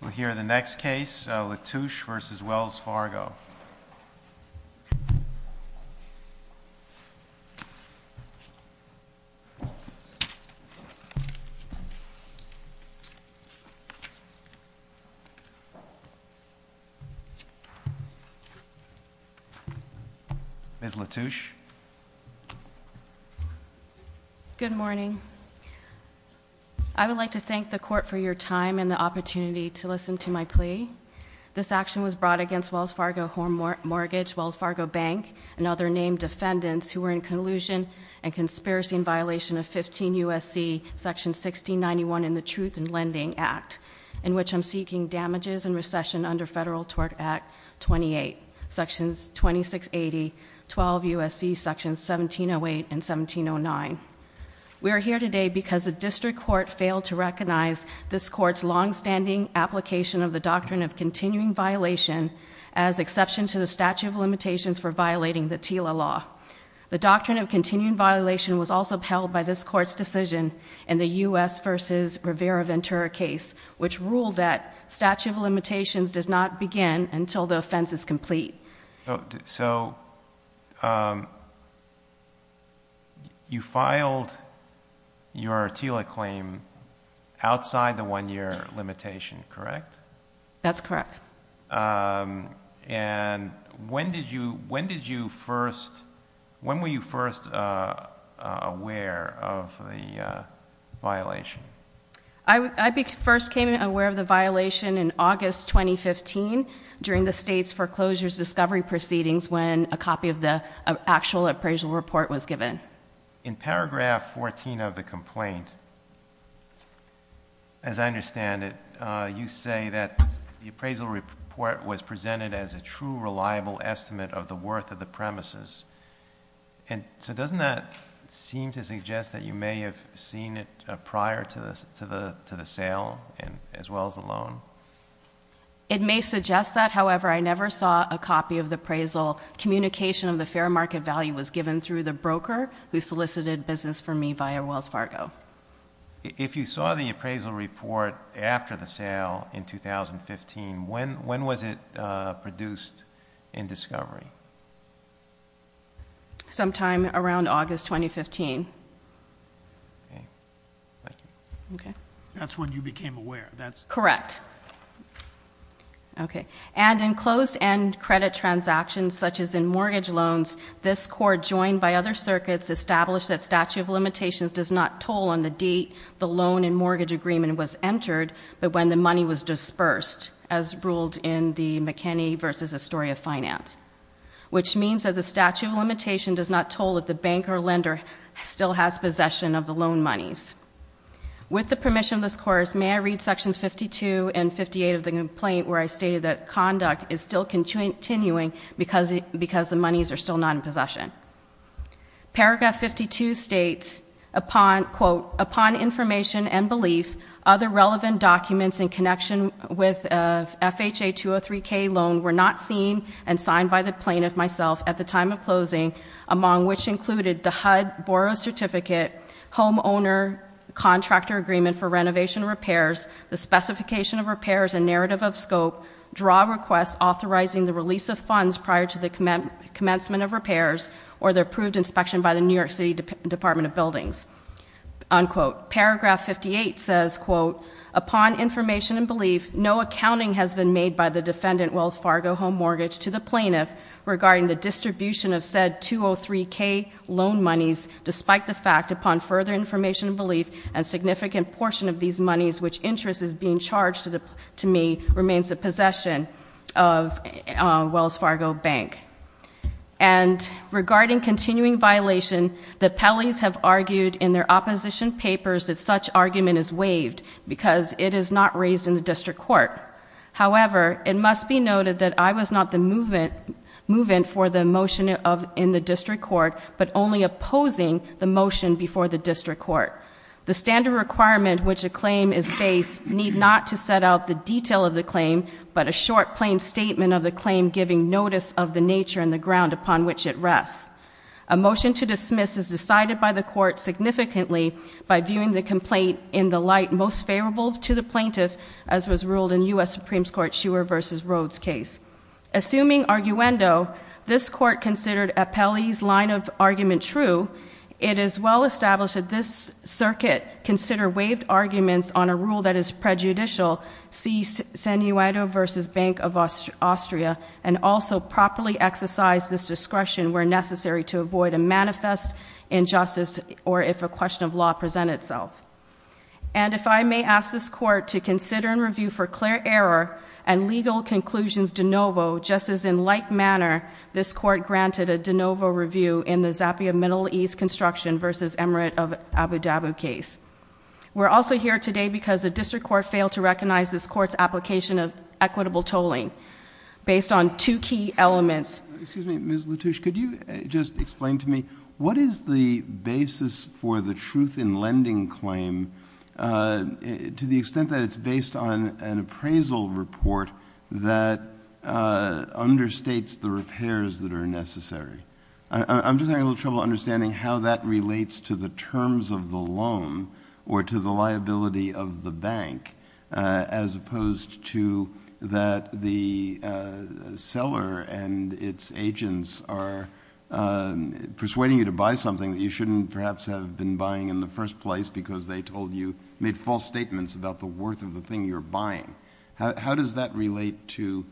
We'll hear the next case, Latouche v. Wells Fargo. Ms. Latouche. Good morning. I would like to thank the Court for your time and the opportunity to listen to my plea. This action was brought against Wells Fargo Home Mortgage, Wells Fargo Bank, and other named defendants who were in collusion and conspiracy in violation of 15 U.S.C. section 1691 in the Truth in Lending Act, in which I'm seeking damages and recession under Federal Tort Act 28, sections 2680, 12 U.S.C. sections 1708 and 1709. We are here today because the district court failed to recognize this court's longstanding application of the doctrine of continuing violation as exception to the statute of limitations for violating the TILA law. The doctrine of continuing violation was also upheld by this court's decision in the U.S. v. Rivera-Ventura case, which ruled that statute of limitations does not begin until the offense is complete. So you filed your TILA claim outside the one-year limitation, correct? That's correct. And when did you first, when were you first aware of the violation? I first became aware of the violation in August 2015 during the state's foreclosures discovery proceedings when a copy of the actual appraisal report was given. In paragraph 14 of the complaint, as I understand it, you say that the appraisal report was presented as a true reliable estimate of the worth of the premises. And so doesn't that seem to suggest that you may have seen it prior to the sale as well as the loan? It may suggest that. However, I never saw a copy of the appraisal. Communication of the fair market value was given through the broker who solicited business for me via Wells Fargo. If you saw the appraisal report after the sale in 2015, when was it produced in discovery? Sometime around August 2015. That's when you became aware. Correct. Okay. And in closed-end credit transactions, such as in mortgage loans, this Court, joined by other circuits, established that statute of limitations does not toll on the date the loan and mortgage agreement was entered, but when the money was dispersed, as ruled in the McKinney v. Astoria Finance, which means that the statute of limitation does not toll if the bank or lender still has possession of the loan monies. With the permission of this Court, may I read Sections 52 and 58 of the complaint, where I stated that conduct is still continuing because the monies are still not in possession. Paragraph 52 states, quote, Upon information and belief, other relevant documents in connection with FHA 203k loan were not seen and signed by the plaintiff myself at the time of closing, among which included the HUD Borrow Certificate, Homeowner Contractor Agreement for Renovation and Repairs, the Specification of Repairs and Narrative of Scope, Draw Requests Authorizing the Release of Funds Prior to the Commencement of Repairs, or the Approved Inspection by the New York City Department of Buildings. Unquote. Paragraph 58 says, quote, Upon information and belief, no accounting has been made by the defendant, Wells Fargo Home Mortgage, to the plaintiff regarding the distribution of said 203k loan monies. Despite the fact, upon further information and belief, a significant portion of these monies, which interest is being charged to me, remains the possession of Wells Fargo Bank. And regarding continuing violation, the Pelley's have argued in their opposition papers that such argument is waived, because it is not raised in the district court. However, it must be noted that I was not the move-in for the motion in the district court, but only opposing the motion before the district court. The standard requirement which a claim is based need not to set out the detail of the claim, but a short, plain statement of the claim giving notice of the nature and the ground upon which it rests. A motion to dismiss is decided by the court significantly, by viewing the complaint in the light most favorable to the plaintiff, as was ruled in U.S. Supremes Court Shewer v. Rhodes case. Assuming arguendo, this court considered a Pelley's line of argument true, it is well established that this circuit consider waived arguments on a rule that is prejudicial, see Senuoto v. Bank of Austria, and also properly exercise this discretion where necessary to avoid a manifest injustice or if a question of law present itself. And if I may ask this court to consider and review for clear error and legal conclusions de novo, just as in like manner this court granted a de novo review in the Zappia Middle East Construction v. Emirate of Abu Dhabi case. We're also here today because the district court failed to recognize this court's application of equitable tolling based on two key elements. Excuse me, Ms. Latouche, could you just explain to me, what is the basis for the truth in lending claim to the extent that it's based on an appraisal report that understates the repairs that are necessary? I'm just having a little trouble understanding how that relates to the terms of the loan or to the liability of the bank as opposed to that the seller and its agents are persuading you to buy something that you shouldn't perhaps have been buying in the first place because they told you, made false statements about the worth of the thing you're buying. How does that relate to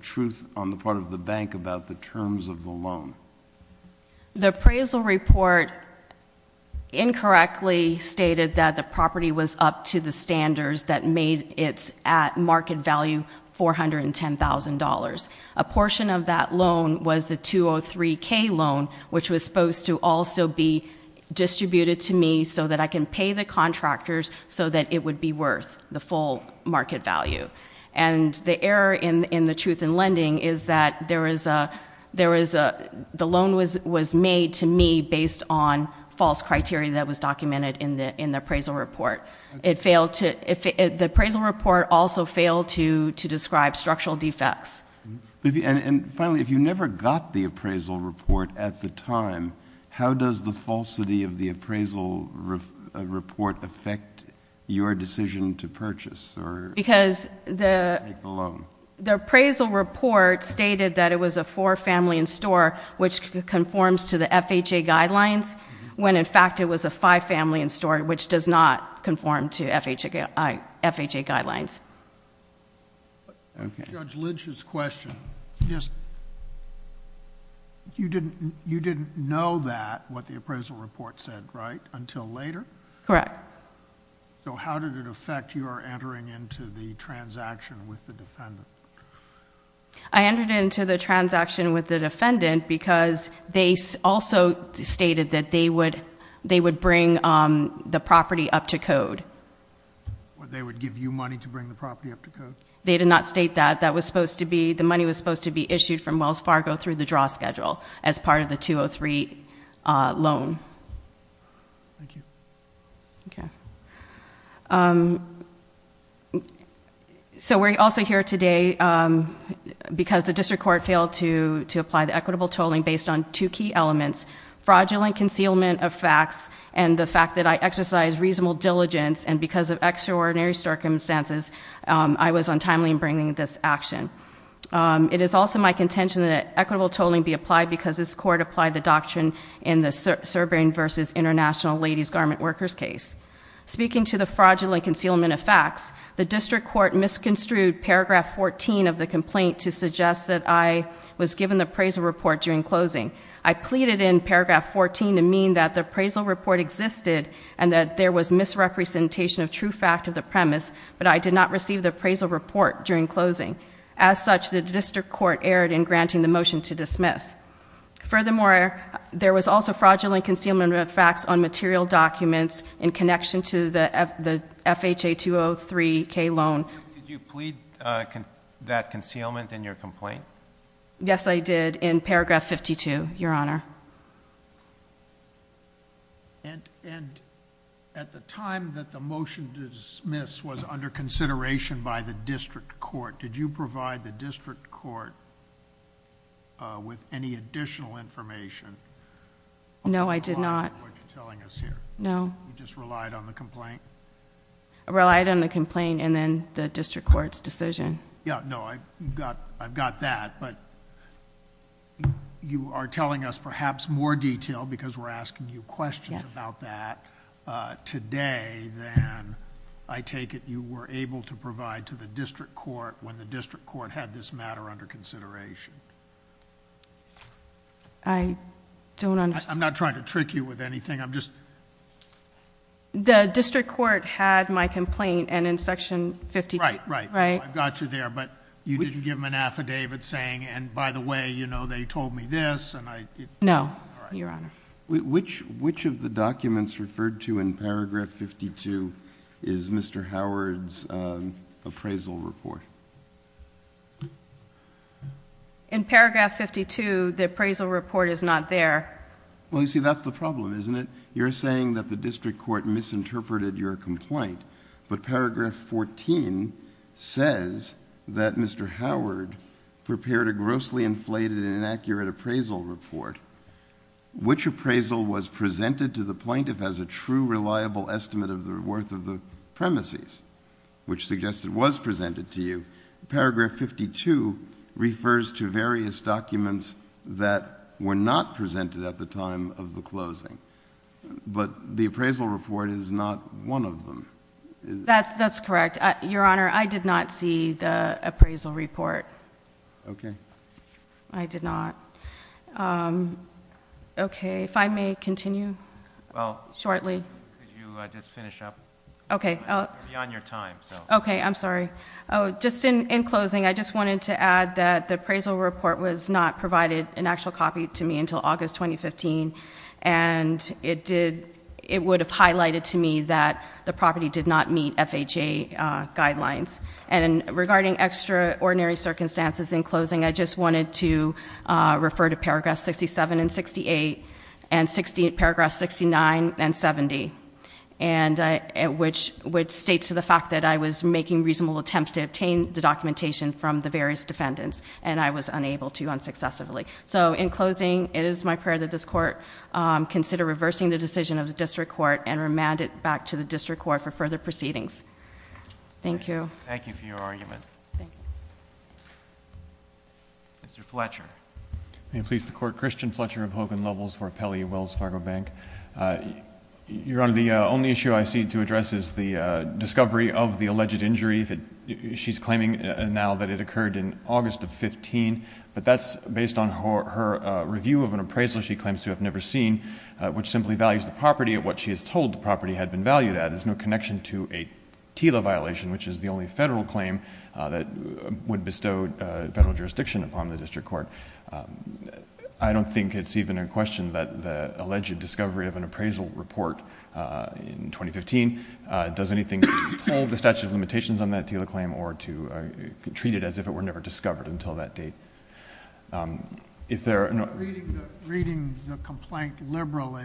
truth on the part of the bank about the terms of the loan? The appraisal report incorrectly stated that the property was up to the standards that made it at market value $410,000. A portion of that loan was the 203k loan, which was supposed to also be distributed to me so that I can pay the contractors so that it would be worth the full market value. The error in the truth in lending is that the loan was made to me based on false criteria that was documented in the appraisal report. The appraisal report also failed to describe structural defects. Finally, if you never got the appraisal report at the time, how does the falsity of the appraisal report affect your decision to purchase or take the loan? Because the appraisal report stated that it was a four-family-in-store, which conforms to the FHA guidelines, when in fact it was a five-family-in-store, which does not conform to FHA guidelines. Okay. Judge Lynch's question, you didn't know that, what the appraisal report said, right, until later? Correct. How did it affect your entering into the transaction with the defendant? I entered into the transaction with the defendant because they also stated that they would bring the property up to code. They would give you money to bring the property up to code? They did not state that. The money was supposed to be issued from Wells Fargo through the draw schedule as part of the 203 loan. Thank you. Okay. So we're also here today because the district court failed to apply the equitable tolling based on two key elements, fraudulent concealment of facts and the fact that I exercised reasonable diligence, and because of extraordinary circumstances, I was untimely in bringing this action. It is also my contention that equitable tolling be applied because this court applied the doctrine in the Serberian versus International Ladies' Garment Workers' case. Speaking to the fraudulent concealment of facts, the district court misconstrued paragraph 14 of the complaint to suggest that I was given the appraisal report during closing. I pleaded in paragraph 14 to mean that the appraisal report existed and that there was misrepresentation of true fact of the premise, but I did not receive the appraisal report during closing. As such, the district court erred in granting the motion to dismiss. Furthermore, there was also fraudulent concealment of facts on material documents in connection to the FHA 203K loan. Did you plead that concealment in your complaint? Yes, I did, in paragraph 52, Your Honor. And at the time that the motion to dismiss was under consideration by the district court, did you provide the district court with any additional information? No, I did not. I don't know what you're telling us here. No. You just relied on the complaint? I relied on the complaint and then the district court's decision. No, I've got that, but you are telling us perhaps more detail because we're asking you questions about that today than I take it you were able to provide to the district court when the district court had this matter under consideration. I don't understand. I'm not trying to trick you with anything. The district court had my complaint and in section 52... Right, right. It was already there, but you didn't give them an affidavit saying, and by the way, you know, they told me this and I... No, Your Honor. All right. Which of the documents referred to in paragraph 52 is Mr. Howard's appraisal report? In paragraph 52, the appraisal report is not there. Well, you see, that's the problem, isn't it? You're saying that the district court misinterpreted your complaint, but paragraph 14 says that Mr. Howard prepared a grossly inflated and inaccurate appraisal report. Which appraisal was presented to the plaintiff as a true reliable estimate of the worth of the premises, which suggests it was presented to you? Paragraph 52 refers to various documents that were not presented at the time of the closing, but the appraisal report is not one of them. That's correct. Your Honor, I did not see the appraisal report. Okay. I did not. Okay. If I may continue shortly. Well, could you just finish up? Okay. We're beyond your time, so... Okay. I'm sorry. Just in closing, I just wanted to add that the appraisal report was not provided, an actual copy, to me until August 2015, and it would have highlighted to me that the property did not meet FHA guidelines. And regarding extraordinary circumstances in closing, I just wanted to refer to paragraphs 67 and 68 and paragraph 69 and 70, which states the fact that I was making reasonable attempts to obtain the documentation from the various defendants, and I was unable to unsuccessfully. So in closing, it is my prayer that this Court consider reversing the decision of the District Court and remand it back to the District Court for further proceedings. Thank you. Thank you for your argument. Thank you. Mr. Fletcher. May it please the Court. Christian Fletcher of Hogan Levels for Pelley Wells Fargo Bank. Your Honor, the only issue I see to address is the discovery of the alleged injury. She's claiming now that it occurred in August of 2015, but that's based on her review of an appraisal she claims to have never seen, which simply values the property at what she is told the property had been valued at. It has no connection to a TILA violation, which is the only Federal claim that would bestow Federal jurisdiction upon the District Court. I don't think it's even in question that the alleged discovery of an appraisal report in 2015 does anything to withhold the statute of limitations on that TILA claim or to treat it as if it were never discovered until that date. Reading the complaint liberally,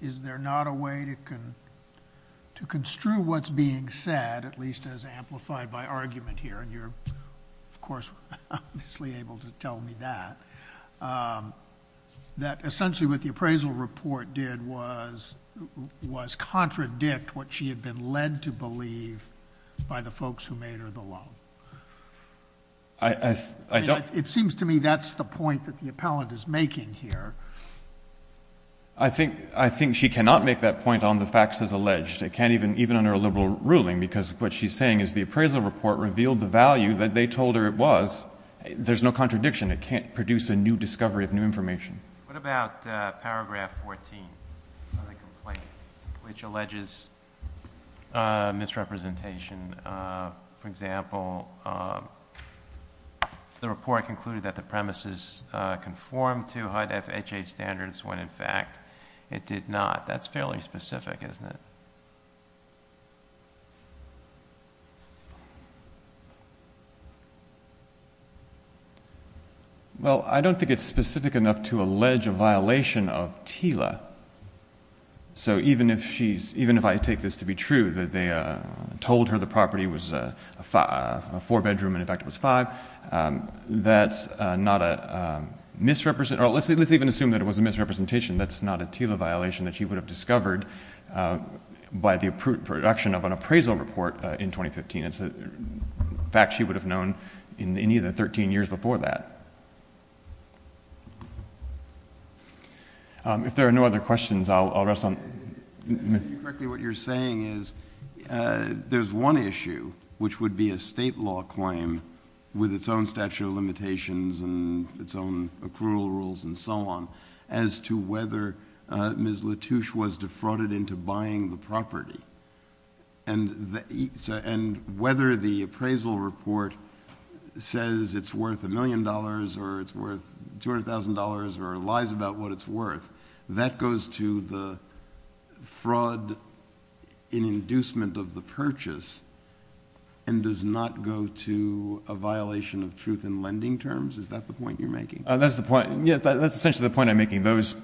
is there not a way to construe what's being said, at least as amplified by argument here, and you're, of course, obviously able to tell me that, that essentially what the appraisal report did was contradict what she had been led to believe by the folks who made her the loan. It seems to me that's the point that the appellant is making here. I think she cannot make that point on the facts as alleged. It can't even under a liberal ruling because what she's saying is the appraisal report revealed the value that they told her it was. There's no contradiction. It can't produce a new discovery of new information. What about paragraph 14 of the complaint, which alleges misrepresentation? For example, the report concluded that the premises conformed to HUD FHA standards, when in fact it did not. That's fairly specific, isn't it? Well, I don't think it's specific enough to allege a violation of TILA. So even if I take this to be true, that they told her the property was a four-bedroom, and in fact it was five, that's not a misrepresentation. Let's even assume that it was a misrepresentation. That's not a TILA violation that she would have discovered by the production of an appraisal report in 2015. It's a fact she would have known in any of the 13 years before that. If there are no other questions, I'll rest on— If I hear you correctly, what you're saying is there's one issue, which would be a state law claim with its own statute of limitations and its own accrual rules and so on, as to whether Ms. Latouche was defrauded into buying the property. And whether the appraisal report says it's worth a million dollars or it's worth $200,000 or lies about what it's worth, that goes to the fraud in inducement of the purchase and does not go to a violation of truth in lending terms? Is that the point you're making? That's the point. That's essentially the point I'm making. Those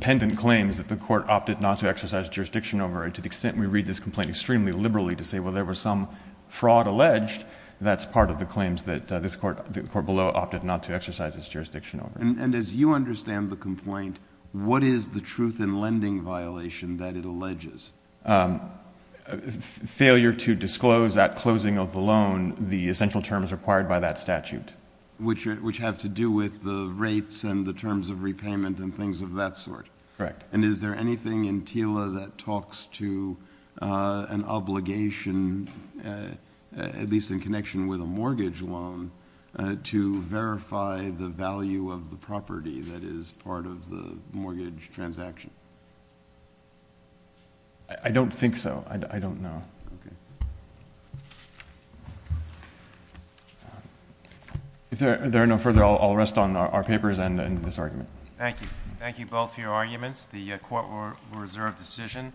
pendant claims that the court opted not to exercise jurisdiction over it, to the extent we read this complaint extremely liberally to say, well, there was some fraud alleged, that's part of the claims that the court below opted not to exercise its jurisdiction over it. And as you understand the complaint, what is the truth in lending violation that it alleges? Failure to disclose at closing of the loan the essential terms required by that statute. Which have to do with the rates and the terms of repayment and things of that sort. Correct. And is there anything in TILA that talks to an obligation, at least in connection with a mortgage loan, to verify the value of the property that is part of the mortgage transaction? I don't think so. I don't know. Okay. If there are no further, I'll rest on our papers and this argument. Thank you. Thank you both for your arguments. The court will reserve decision.